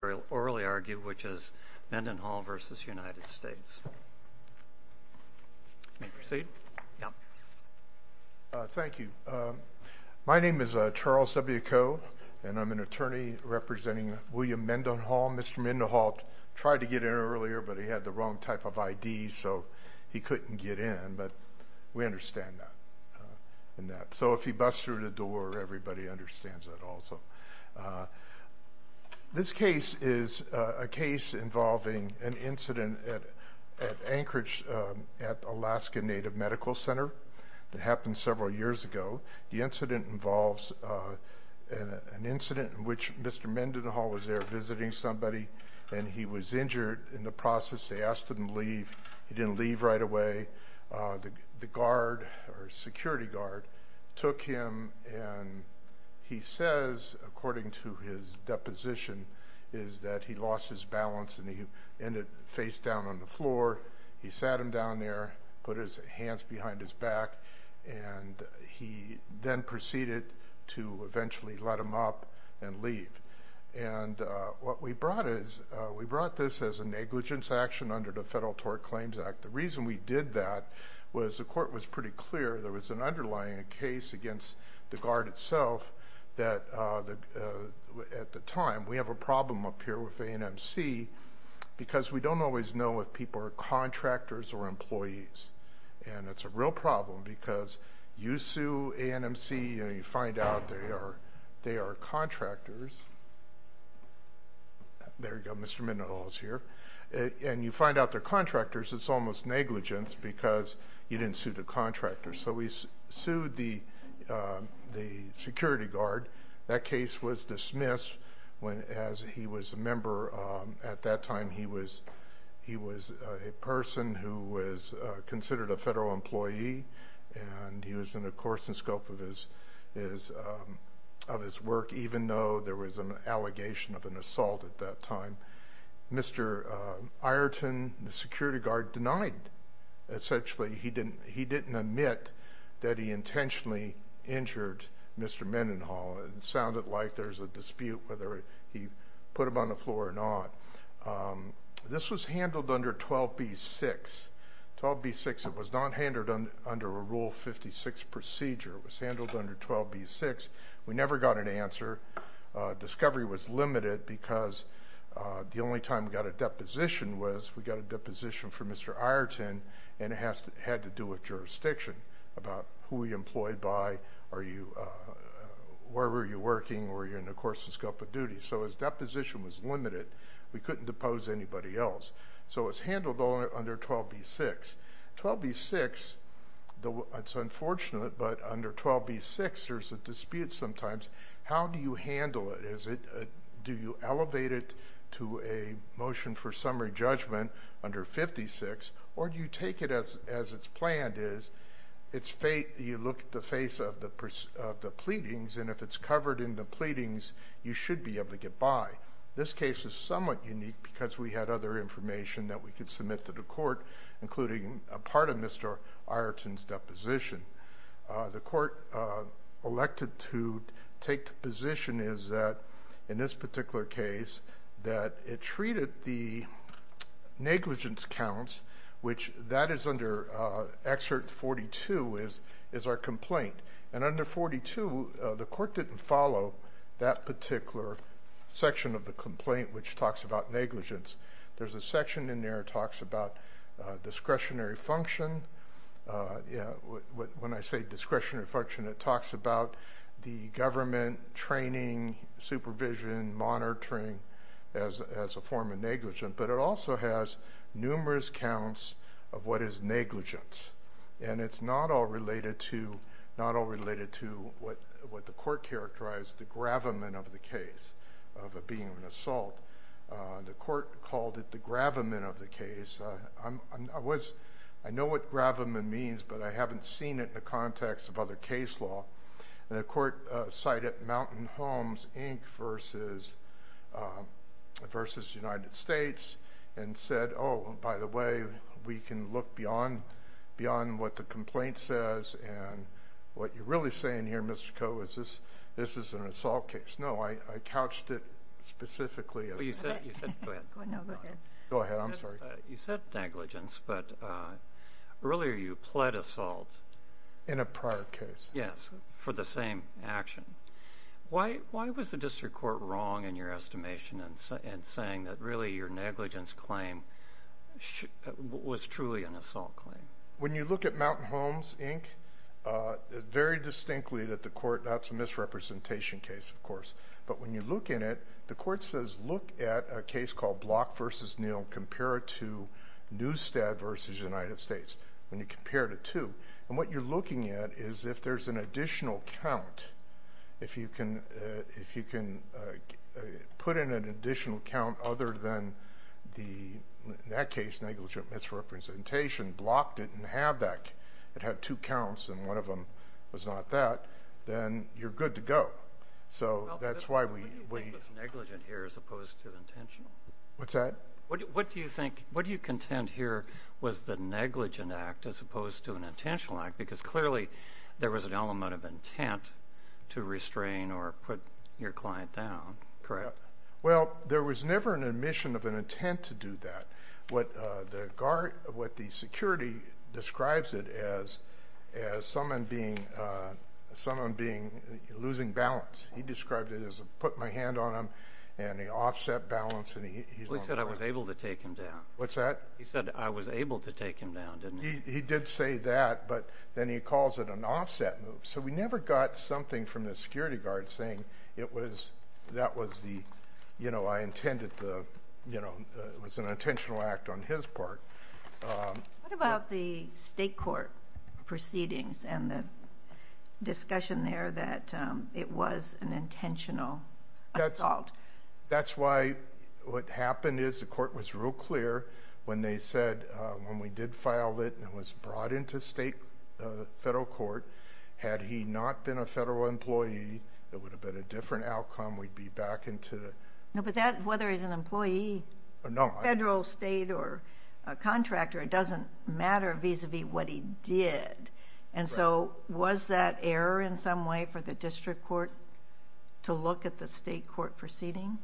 My name is Charles W. Coe, and I'm an attorney representing William Mendenhall. Mr. Mendenhall tried to get in earlier, but he had the wrong type of ID, so he couldn't get in, but we understand that. So if he busts through the door, everybody understands that also. This case is a case involving an incident at Anchorage, at Alaska Native Medical Center that happened several years ago. The incident involves an incident in which Mr. Mendenhall was there visiting somebody, and he was injured. In the process, they asked him to leave. He didn't leave right away. The guard, or security guard, took him, and he says, according to his deposition, is that he lost his balance and he ended up face down on the floor. He sat him down there, put his hands behind his back, and he then proceeded to eventually let him up and leave. And what we brought is, we brought this as a negligence action under the Federal Tort Claims Act. The reason we did that was the court was pretty clear, there was an underlying case against the guard itself, that the guard had been at the time. We have a problem up here with A&MC, because we don't always know if people are contractors or employees. And it's a real problem, because you sue A&MC, and you find out they are contractors. There you go, Mr. Mendenhall is here. And you find out they're contractors, it's almost negligence, because you didn't sue the contractors. So we sued the security guard. That case was dismissed when, as he was a member at that time, he was a person who was considered a federal employee, and he was in the course and scope of his work, even though there was an allegation of an assault at that time. Mr. Ireton, the security guard, denied, essentially, he didn't admit that he intentionally injured Mr. Mendenhall. It sounded like there was a dispute, whether he put him on the floor or not. This was handled under 12b-6. 12b-6, it was not handled under a Rule 56 procedure. It was handled under 12b-6. We never got an answer. Discovery was limited, because the only time we got a deposition was, we got a deposition from Mr. Ireton, and it had to do with jurisdiction, about who he was employed by, where were you working, were you in the course and scope of duty. So his deposition was limited. We couldn't depose anybody else. So it was handled under 12b-6. 12b-6, it's unfortunate, but under 12b-6, there's a dispute sometimes. How do you handle it? Do you elevate it to a motion for summary judgment under 56, or do you take it as it's planned? You look at the face of the pleadings, and if it's covered in the pleadings, you should be able to get by. This case is somewhat unique, because we had other information that we could submit to the court, including a part of Mr. Ireton's deposition. The court elected to take the position is that, in this particular case, that it treated the negligence counts, which that is under Excerpt 42, is our complaint. And under 42, the court didn't follow that particular section of the complaint, which talks about negligence. There's a section in there that talks about discretionary function. When I say discretionary function, it talks about the government, training, supervision, monitoring, as a form of negligence. But it also has numerous counts of what is negligence. And it's not all related to what the court characterized, the gravamen, of the case, of it being an assault. The court called it the gravamen of the case. I know what gravamen means, but I haven't seen it in the context of other case law. And the court cited Mountain Homes, Inc. versus the United States, and said, oh, by the way, we can look beyond what the complaint says, and what you're really saying here, Mr. Coe, is this is an assault case. No, I couched it specifically. You said negligence, but earlier you pled assault. In a prior case. Yes, for the same action. Why was the district court wrong in your estimation and saying that really your negligence claim was truly an assault claim? When you look at Mountain Homes, Inc., very distinctly that the court, that's a misrepresentation case, of course. But when you look in it, the court says, look at a case called Block versus Neal, compare it to Newstead versus United States. When you compare the two, and what you're looking at is if there's an additional count. If you can put in an additional count other than the, in that case, negligent misrepresentation, Block didn't have that. It had two counts, and one of them was not that. Then you're good to go. So that's why we. What do you think was negligent here as opposed to intentional? What's that? What do you think, what do you contend here was the negligent act as opposed to an intentional act? Because clearly there was an element of intent to restrain or put your client down, correct? Well, there was never an admission of an intent to do that. What the security describes it as, as someone being, someone being, losing balance. He described it as a put my hand on him and the offset balance. And he said I was able to take him down. What's that? He did say that, but then he calls it an offset move. So we never got something from the security guard saying it was, that was the, you know, I intended to, you know, it was an intentional act on his part. What about the state court proceedings and the discussion there that it was an intentional assault? That's why what happened is the court was real clear when they said when we did file it and it was brought into state federal court, had he not been a federal employee, it would have been a different outcome. We'd be back into. No, but that, whether he's an employee or not, federal state or a contractor, it doesn't matter vis-a-vis what he did. And so was that error in some way for the district court to look at the state court proceeding?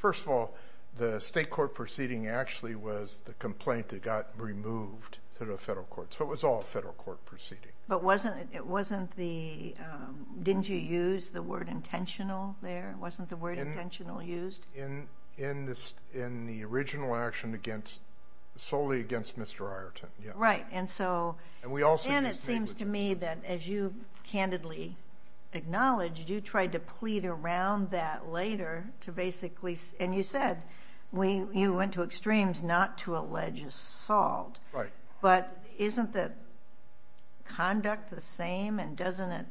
First of all, the state court proceeding actually was the complaint that got removed through the federal court. So it was all federal court proceeding. But wasn't it, wasn't the, didn't you use the word intentional there? Wasn't the word intentional used? In this, in the original action against, solely against Mr. Right. And so, and it seems to me that as you candidly acknowledged, you tried to plead around that later to basically, and you said, we, you went to extremes not to allege assault, but isn't that conduct the same? And doesn't it,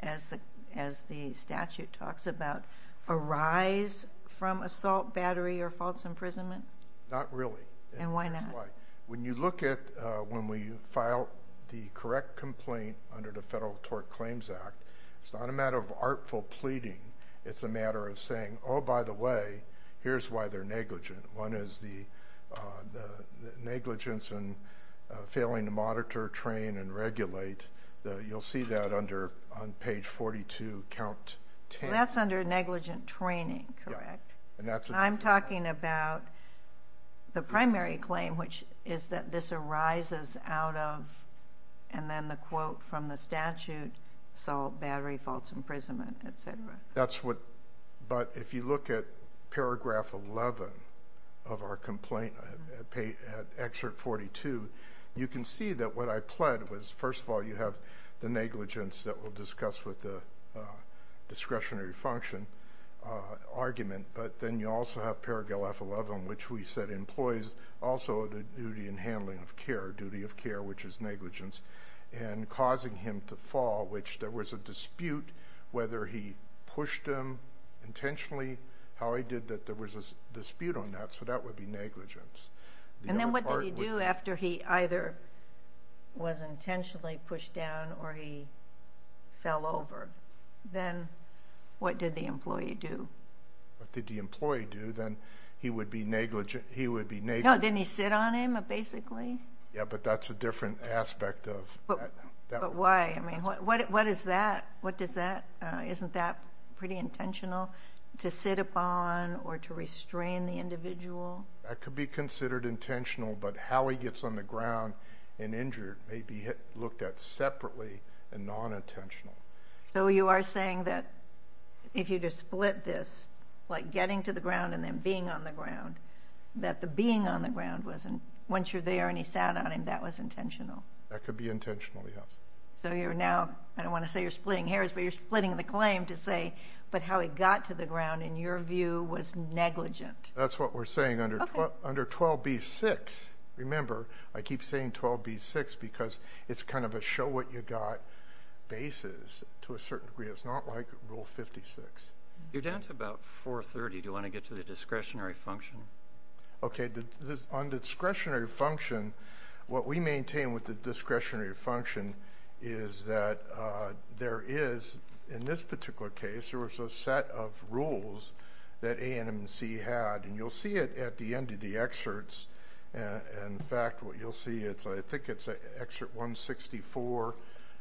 as the, as the statute talks about arise from assault battery or false imprisonment? Not really. And why not? When you look at, when we file the correct complaint under the federal tort claims act, it's not a matter of artful pleading. It's a matter of saying, oh, by the way, here's why they're negligent. One is the, the negligence and failing to monitor, train and regulate the, you'll see that under on page 42, count 10. And that's what I'm talking about. The primary claim, which is that this arises out of, and then the quote from the statute, so battery, false imprisonment, et cetera. That's what, but if you look at paragraph 11 of our complaint, pay at excerpt 42, you can see that what I pled was, first of all, you have the negligence that we'll discuss with the discretionary function argument. But then you also have paragraph 11, which we said employees also the duty and handling of care, duty of care, which is negligence and causing him to fall, which there was a dispute, whether he pushed him intentionally, how he did that. There was a dispute on that. So that would be negligence. And then what did he do after he either was intentionally pushed down or he fell over? Then what did the employee do? What did the employee do? Then he would be negligent. He would be, no. Didn't he sit on him basically? Yeah, but that's a different aspect of why, I mean, what, what, what is that? What does that, isn't that pretty intentional to sit upon or to restrain the individual? That could be considered intentional, but how he gets on the ground and injured may be looked at separately and non-intentional. So you are saying that if you just split this, like getting to the ground and then being on the ground, that the being on the ground wasn't, once you're there and he sat on him, that was intentional. That could be intentional. Yes. So you're now, I don't want to say you're splitting hairs, but you're splitting the claim to say, but how he got to the ground in your view was negligent. That's what we're saying under 12B6. Remember, I keep saying 12B6 because it's kind of a show what you got basis to a certain degree. It's not like rule 56. You're down to about 430. Do you want to get to the discretionary function? Okay. On the discretionary function, what we maintain with the discretionary function is that there is, in this particular case, there was a set of rules that ANMC had, and you'll see it at the end of the excerpts. And in fact, what you'll see, it's, I think it's an excerpt 164,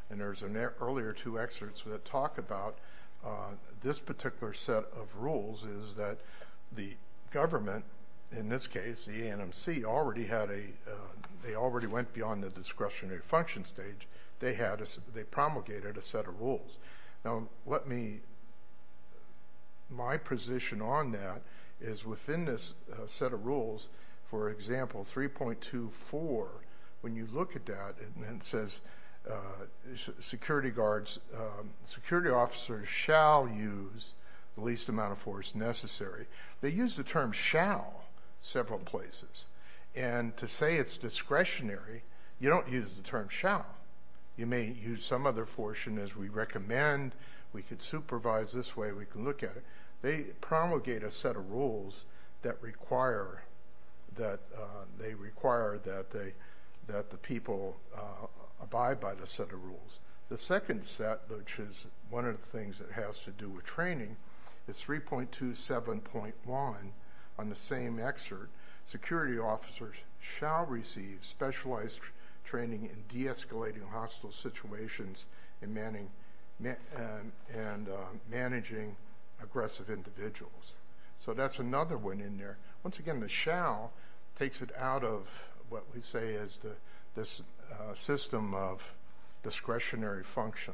and there's an earlier two excerpts that talk about this particular set of rules is that the government, in this case, the ANMC already had a, they already went beyond the discretionary function stage. They had, they promulgated a set of rules. Now, let me, my position on that is within this set of rules, for example, 3.24, when you look at that and it says security guards, security officers shall use the least amount of force necessary, they use the term shall several places. And to say it's discretionary, you don't use the term shall. You may use some other portion as we recommend. We could supervise this way. We can look at it. They promulgate a set of rules that require that they require that they, that the people abide by the set of rules. The second set, which is one of the things that has to do with training, is 3.27.1 on the same excerpt. Security officers shall receive specialized training in deescalating hostile situations and managing aggressive individuals. So that's another one in there. Once again, the shall takes it out of what we say is the, this system of discretionary function.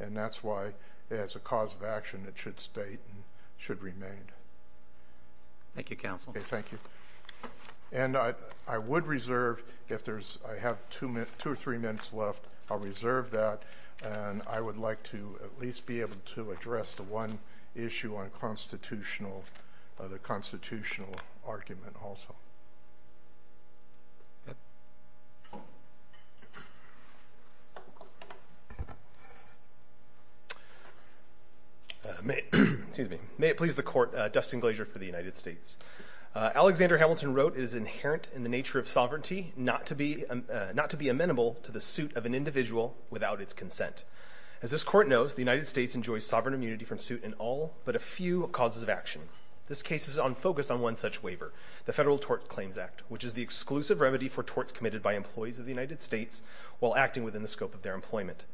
And that's why it has a cause of action that should state and should remain. Thank you, counsel. Okay. Thank you. And I, I would reserve if there's, I have two minutes, two or three minutes left. I'll reserve that. And I would like to at least be able to address the one issue on constitutional, the constitutional argument also. May, excuse me, may it please the court, Dustin Glazier for the United States. Alexander Hamilton wrote, it is inherent in the nature of sovereignty, not to be, not to be amenable to the suit of an individual without its consent. As this court knows, the United States enjoys sovereign immunity from suit in all but a few causes of action. This case is on focus on one such waiver, the Federal Tort Claims Act, which is the exclusive remedy for torts committed by employees of the United States while acting within the scope of their employment.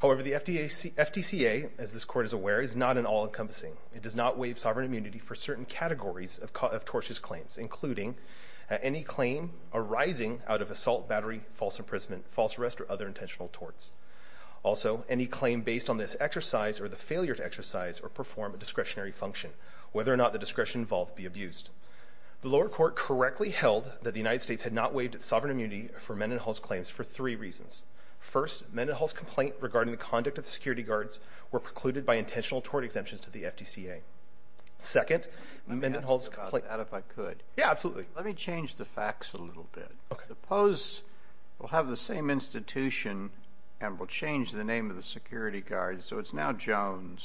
However, the FDCA, as this court is aware, is not an all encompassing. It does not waive sovereign immunity for certain categories of tortious claims, including any claim arising out of assault, battery, false imprisonment, false arrest, or other intentional torts. Also, any claim based on this exercise or the failure to exercise or perform a discretionary function, whether or not the discretion involved be abused. The lower court correctly held that the United States had not waived its sovereign immunity for Mendenhall's claims for three reasons. First, Mendenhall's complaint regarding the conduct of the security guards were precluded by intentional tort exemptions to the FDCA. Second, Mendenhall's complaint... Let me ask about that if I could. Yeah, absolutely. Let me change the facts a little bit. Okay. Suppose we'll have the same institution and we'll change the name of the security guard, so it's now Jones,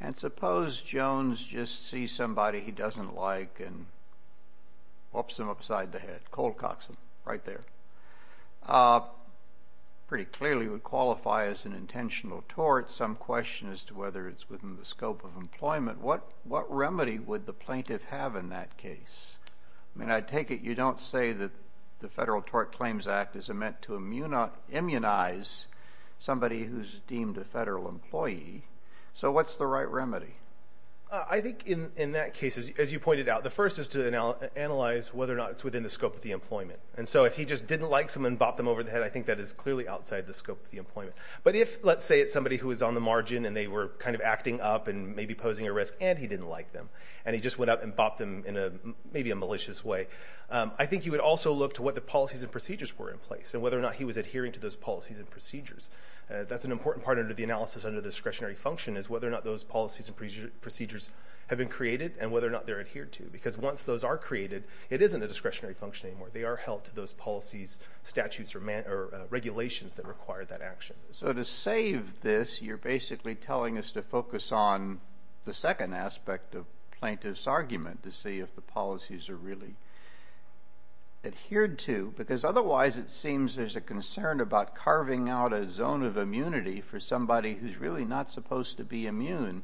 and suppose Jones just sees somebody he doesn't like and whoops him upside the head, cold cocks him, right there. Pretty clearly would qualify as an intentional tort. Some question as to whether it's within the scope of employment. What remedy would the plaintiff have in that case? I mean, I take it you don't say that the Federal Tort Claims Act is meant to immunize somebody who's deemed a federal employee, so what's the right remedy? I think in that case, as you pointed out, the first is to analyze whether or not it's within the scope of the employment. And so if he just didn't like someone and bopped them over the head, I think that is clearly outside the scope of the employment. But if, let's say, it's somebody who was on the margin and they were kind of acting up and maybe posing a risk and he didn't like them, and he just went up and bopped them in maybe a malicious way, I think you would also look to what the policies and procedures were in place and whether or not he was adhering to those policies and procedures. That's an important part of the analysis under discretionary function is whether or not those policies and procedures have been created and whether or not they're adhered to, because once those are created, it isn't a discretionary function anymore. They are held to those policies, statutes, or regulations that require that action. So to save this, you're basically telling us to focus on the second aspect of plaintiff's argument to see if the policies are really adhered to, because otherwise it seems there's a concern about carving out a zone of immunity for somebody who's really not supposed to be immune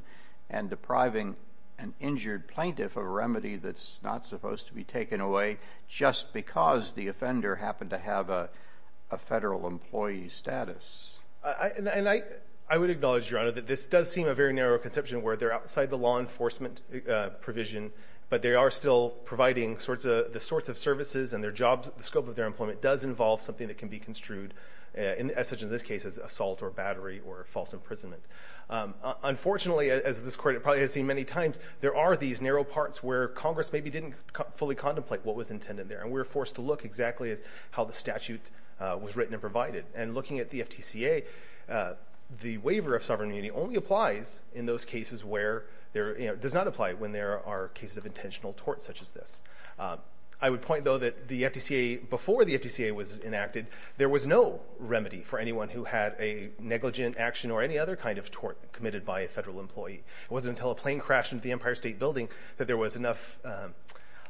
and depriving an injured plaintiff of a remedy that's not supposed to be taken away just because the offender happened to have a federal employee status. And I would acknowledge, Your Honor, that this does seem a very narrow conception where they're outside the law enforcement provision, but they are still providing the sorts of services and the scope of their employment does involve something that can be construed as such in this case as assault or battery or false imprisonment. Unfortunately, as this court probably has seen many times, there are these narrow parts where Congress maybe didn't fully contemplate what was intended there, and we were forced to look exactly at how the statute was written and provided, and looking at the FTCA, the waiver of sovereign immunity only applies in those cases where there, you know, it does not apply when there are cases of intentional tort such as this. I would point, though, that the FTCA, before the FTCA was enacted, there was no remedy for anyone who had a negligent action or any other kind of tort committed by a federal employee. It wasn't until a plane crashed into the Empire State Building that there was enough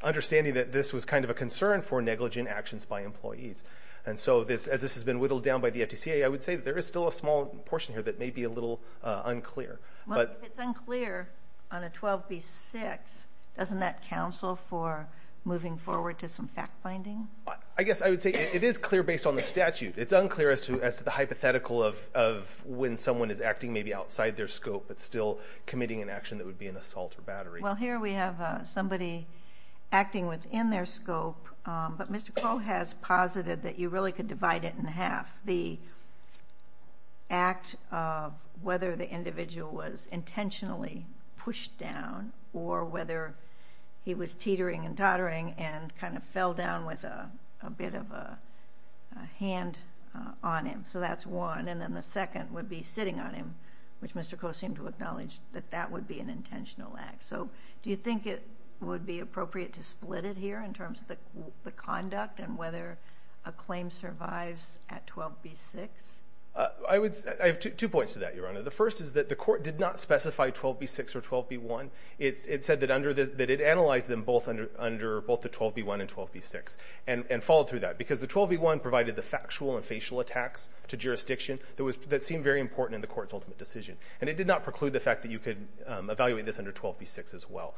understanding that this was kind of a concern for negligent actions by employees. And so as this has been whittled down by the FTCA, I would say there is still a small portion here that may be a little unclear. Well, if it's unclear on a 12b-6, doesn't that counsel for moving forward to some fact-finding? I guess I would say it is clear based on the statute. It's unclear as to the hypothetical of when someone is acting maybe outside their scope but still committing an action that would be an assault or battery. Well, here we have somebody acting within their scope, but Mr. Coe has posited that you really could divide it in half. The act of whether the individual was intentionally pushed down or whether he was teetering and tottering and kind of fell down with a bit of a hand on him. So that's one. And then the second would be sitting on him, which Mr. Coe seemed to acknowledge that that would be an intentional act. So do you think it would be appropriate to split it here in terms of the conduct and whether a claim survives at 12b-6? I have two points to that, Your Honor. The first is that the court did not specify 12b-6 or 12b-1. It said that it analyzed them both under both the 12b-1 and 12b-6 and followed through that because the 12b-1 provided the factual and facial attacks to jurisdiction that seemed very important in the court's ultimate decision. And it did not preclude the fact that you could evaluate this under 12b-6 as well.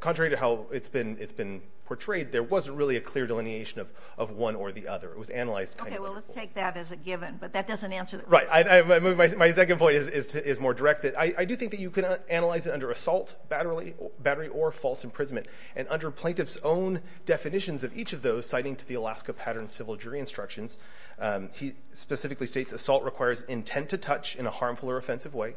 Contrary to how it's been portrayed, there wasn't really a clear delineation of one or the other. It was analyzed kind of like a whole. Okay, well, let's take that as a given, but that doesn't answer the question. Right. My second point is more direct. I do think that you could analyze it under assault, battery, or false imprisonment. And under plaintiff's own definitions of each of those, citing to the Alaska Pattern Civil Jury Instructions, he specifically states assault requires intent to touch in a harmful or offensive way,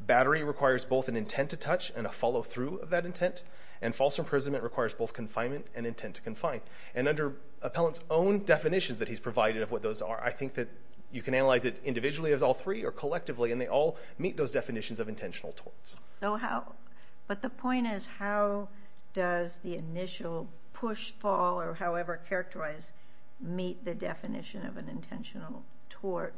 battery requires both an intent to touch and a follow through of that intent, and false imprisonment requires both confinement and intent to confine. And under appellant's own definitions that he's provided of what those are, I think that you can analyze it individually as all three or collectively, and they all meet those definitions of intentional torts. But the point is, how does the initial push, fall, or however characterized, meet the definition of an intentional tort?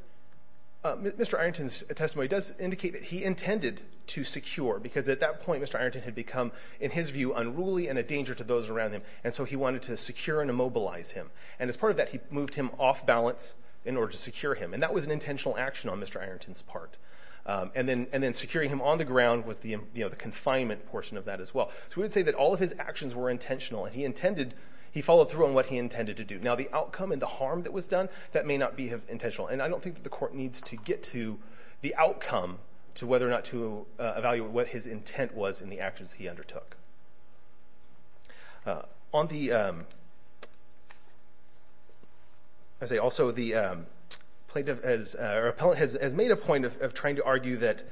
Mr. Ironton's testimony does indicate that he intended to secure, because at that point Mr. Ironton had become, in his view, unruly and a danger to those around him. And so he wanted to secure and immobilize him. And as part of that, he moved him off balance in order to secure him. And that was an intentional action on Mr. Ironton's part. And then securing him on the ground was the confinement portion of that as well. So we would say that all of his actions were intentional. And he intended, he followed through on what he intended to do. Now the outcome and the harm that was done, that may not be intentional. And I don't think that the court needs to get to the outcome to whether or not to evaluate what his intent was in the actions he undertook. On the, I say also the plaintiff, or the appellant has made a point of trying to argue that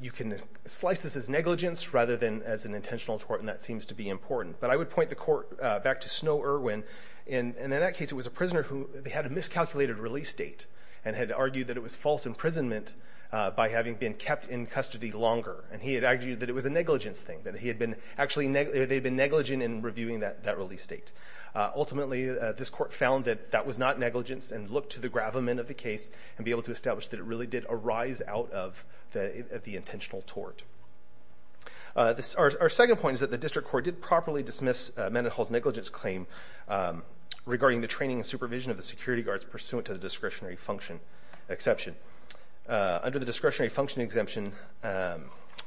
you can slice this as negligence rather than as an intentional tort. And that seems to be important. But I would point the court back to Snow Irwin. And in that case it was a prisoner who had a miscalculated release date. And had argued that it was false imprisonment by having been kept in custody longer. And he had argued that it was a negligence thing. That he had been actually, they had been negligent in reviewing that release date. Ultimately this court found that that was not negligence and looked to the gravamen of the case and be able to establish that it really did arise out of the intentional tort. Our second point is that the district court did properly dismiss Mendenhall's negligence claim regarding the training and supervision of the security guards pursuant to the discretionary function exception. Under the discretionary function exemption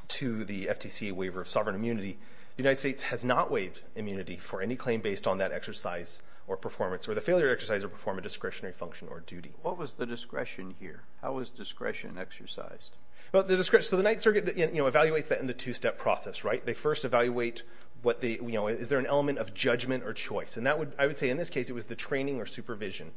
to the FTC waiver of sovereign immunity, the United States has not waived immunity for any claim based on that exercise or performance or the failure to exercise or perform a discretionary function or duty. What was the discretion here? How was discretion exercised? So the Ninth Circuit evaluates that in the two-step process, right? They first evaluate what the, is there an element of judgment or choice? And that would, I would say in this case it was the training or supervision.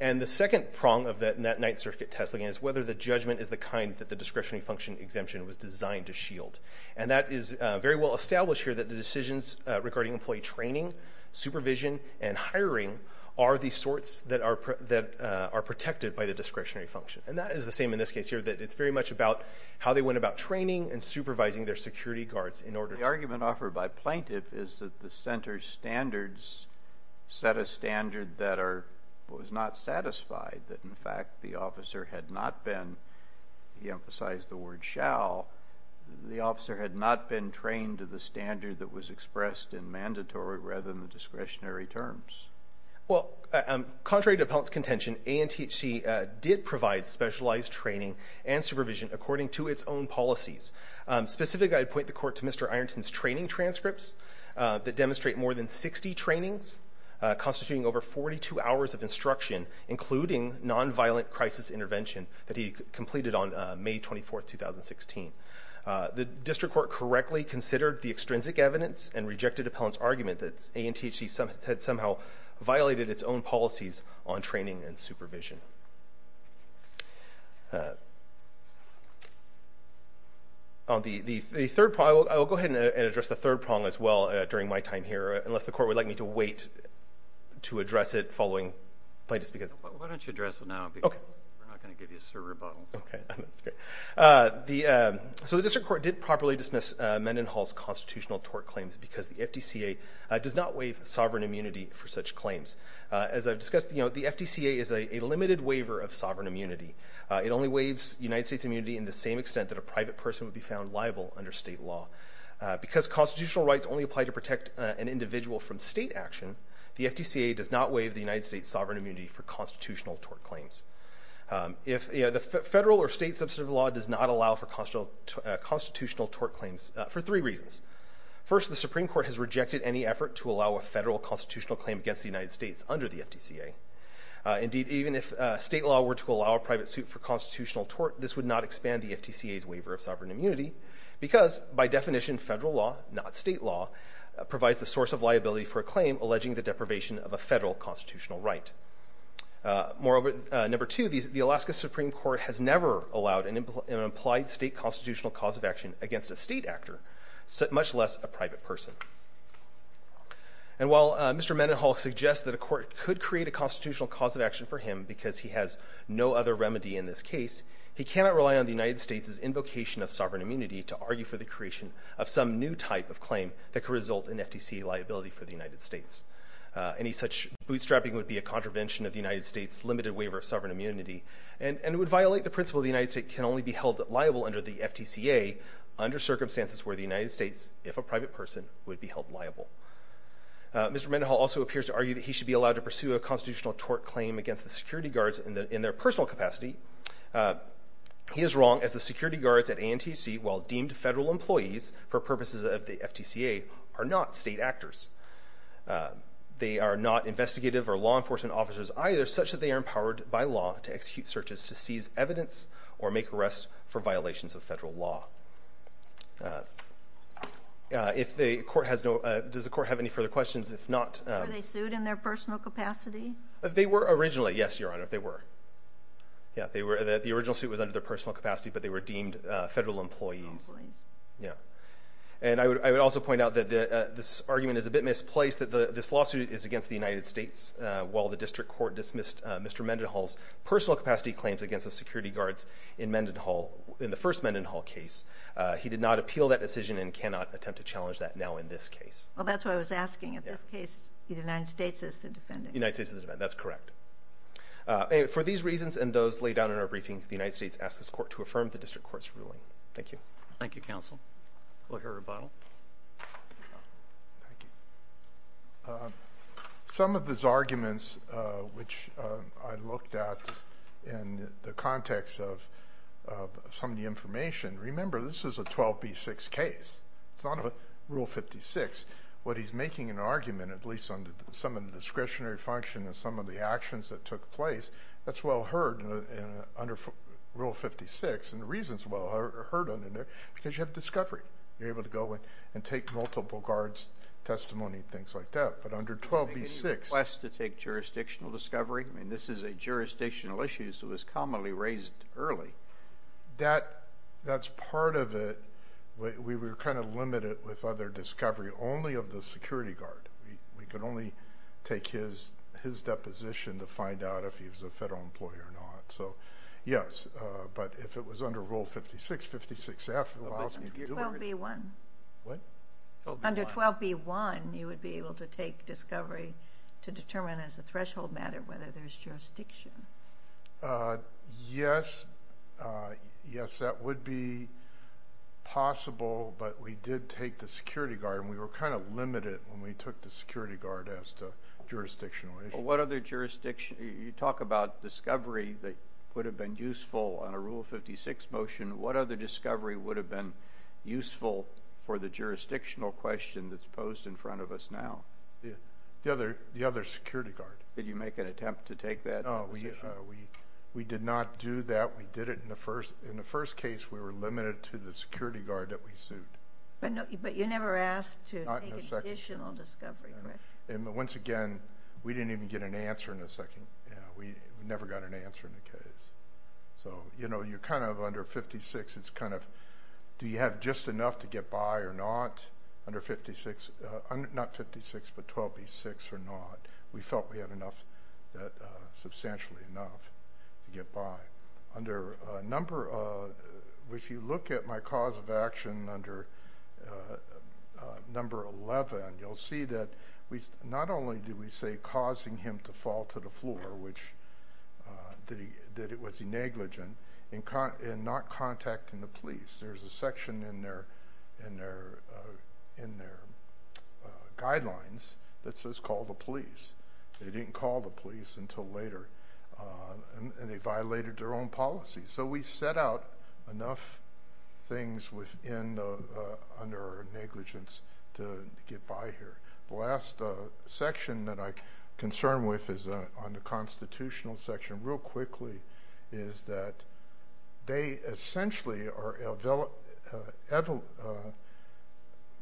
And the second prong of that Ninth Circuit test again is whether the judgment is the kind that the discretionary function exemption was designed to shield. And that is very well established here that the decisions regarding employee training, supervision, and hiring are the sorts that are protected by the discretionary function. And that is the same in this case here that it's very much about how they went about training and supervising their security guards in order to- The argument offered by plaintiff is that the center's standards set a standard that are, was not satisfied that in fact the officer had not been, he emphasized the word shall, the officer had not been trained to the standard that was expressed in mandatory rather than the discretionary terms. Well, contrary to appellant's contention, ANTHC did provide specialized training and supervision according to its own policies. Specific, I'd point the court to Mr. Ironton's training transcripts that demonstrate more than 60 trainings, constituting over 42 hours of instruction, including non-violent crisis intervention that he completed on May 24th, 2016. The district court correctly considered the extrinsic evidence and rejected appellant's argument that ANTHC had somehow violated its own policies on training and supervision. On the third problem, I will go ahead and address the third problem as well during my time here, unless the court would like me to wait to address it following plaintiff's- Why don't you address it now because we're not going to give you a server bottle. Okay, that's good. So the district court did properly dismiss Mendenhall's constitutional tort claims because the FDCA does not waive sovereign immunity for such claims. As I've discussed, the FDCA is a limited waiver of sovereign immunity. It only waives United States immunity in the same extent that a private person would be found liable under state law. Because constitutional rights only apply to protect an individual from state action, the FDCA does not waive the United States sovereign immunity for constitutional tort claims. The federal or state substantive law does not allow for constitutional tort claims for three reasons. First, the Supreme Court has rejected any effort to allow a federal constitutional claim against the United States under the FDCA. Indeed, even if state law were to allow a private suit for constitutional tort, this would not expand the FDCA's waiver of sovereign immunity because, by definition, federal law, not state law, provides the source of liability for a claim alleging the deprivation of a federal constitutional right. Moreover, number two, the Alaska Supreme Court has never allowed an implied state constitutional cause of action against a state actor, much less a private person. And while Mr. Mendenhall suggests that a court could create a constitutional cause of action for him because he has no other remedy in this case, he cannot rely on the United States' invocation of sovereign immunity to argue for the creation of some new type of claim that could result in FDCA liability for the United States. Any such bootstrapping would be a contravention of the United States' limited waiver of sovereign immunity, and would violate the principle that the United States can only be held liable under the FDCA under circumstances where the United States, if a private person, would be held liable. Mr. Mendenhall also appears to argue that he should be allowed to pursue a constitutional tort claim against the security guards in their personal capacity. He is wrong, as the security guards at ANTC, while deemed federal employees for purposes of the FDCA, are not state actors. They are not investigative or law enforcement officers either, such that they are empowered by law to execute searches to seize evidence or make arrests for violations of federal law. Does the court have any further questions? Were they sued in their personal capacity? They were originally, yes, Your Honor, they were. The original suit was under their personal capacity, but they were deemed federal employees. And I would also point out that this argument is a bit misplaced, that this lawsuit is against the United States, while the district court dismissed Mr. Mendenhall's personal capacity claims against the security guards in the first Mendenhall case. He did not appeal that decision and cannot attempt to challenge that now in this case. Well, that's what I was asking. In this case, the United States is the defendant. The United States is the defendant, that's correct. For these reasons and those laid out in our briefing, the United States asks this court to affirm the district court's ruling. Thank you. Thank you, counsel. We'll hear a rebuttal. Thank you. Some of these arguments, which I looked at in the context of some of the information, remember this is a 12B6 case. It's not a Rule 56. What he's making an argument, at least on some of the discretionary function and some of the actions that took place, that's well heard under Rule 56. And the reason it's well heard under there is because you have discovery. You're able to go in and take multiple guards' testimony and things like that. But under 12B6... Any request to take jurisdictional discovery? I mean, this is a jurisdictional issue, so it was commonly raised early. That's part of it. We were kind of limited with other discovery, only of the security guard. We could only take his deposition to find out if he was a federal employee or not. So, yes. But if it was under Rule 56, 56F... Under 12B1. What? Under 12B1, you would be able to take discovery to determine as a threshold matter whether there's jurisdiction. Yes. Yes, that would be possible. But we did take the security guard. And we were kind of limited when we took the security guard as to jurisdictional issues. What other jurisdiction... You talk about discovery that would have been useful on a Rule 56 motion. What other discovery would have been useful for the jurisdictional question that's posed in front of us now? The other security guard. Did you make an attempt to take that? No, we did not do that. We did it in the first... In the first case, we were limited to the security guard that we sued. But you never asked to take an additional discovery, correct? Not in a second. Once again, we didn't even get an answer in the second... We never got an answer in the case. So, you know, you're kind of under 56. It's kind of... Do you have just enough to get by or not? Under 56... Not 56, but 12B6 or not. We felt we had enough. Substantially enough to get by. Under a number of... If you look at my cause of action under number 11, you'll see that not only did we say causing him to fall to the floor which... That it was a negligent in not contacting the police. There's a section in their guidelines that says they didn't call the police. They didn't call the police until later. And they violated their own policy. So we set out enough things under negligence to get by here. The last section that I'm concerned with on the constitutional section real quickly is that they essentially are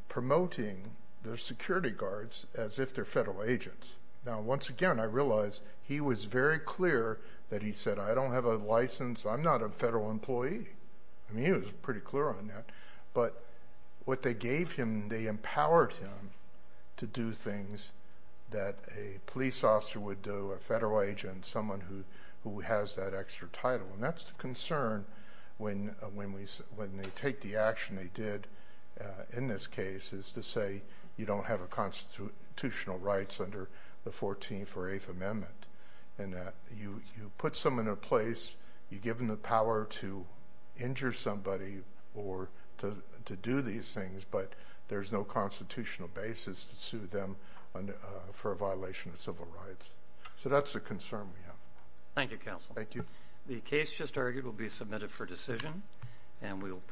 promoting their security guards as if they're federal agents. Now once again, I realize he was very clear that he said I don't have a license, I'm not a federal employee. He was pretty clear on that. But what they gave him they empowered him to do things that a police officer would do a federal agent, someone who has that extra title. And that's the concern when they take the action they did in this case is to say you don't have constitutional rights under the 14th or 8th amendment. You put someone in a place you give them the power to injure somebody or to do these things but there's no constitutional basis to sue them for a violation of civil rights. So that's a concern we have. Thank you counsel. The case just argued will be submitted for decision and we will proceed.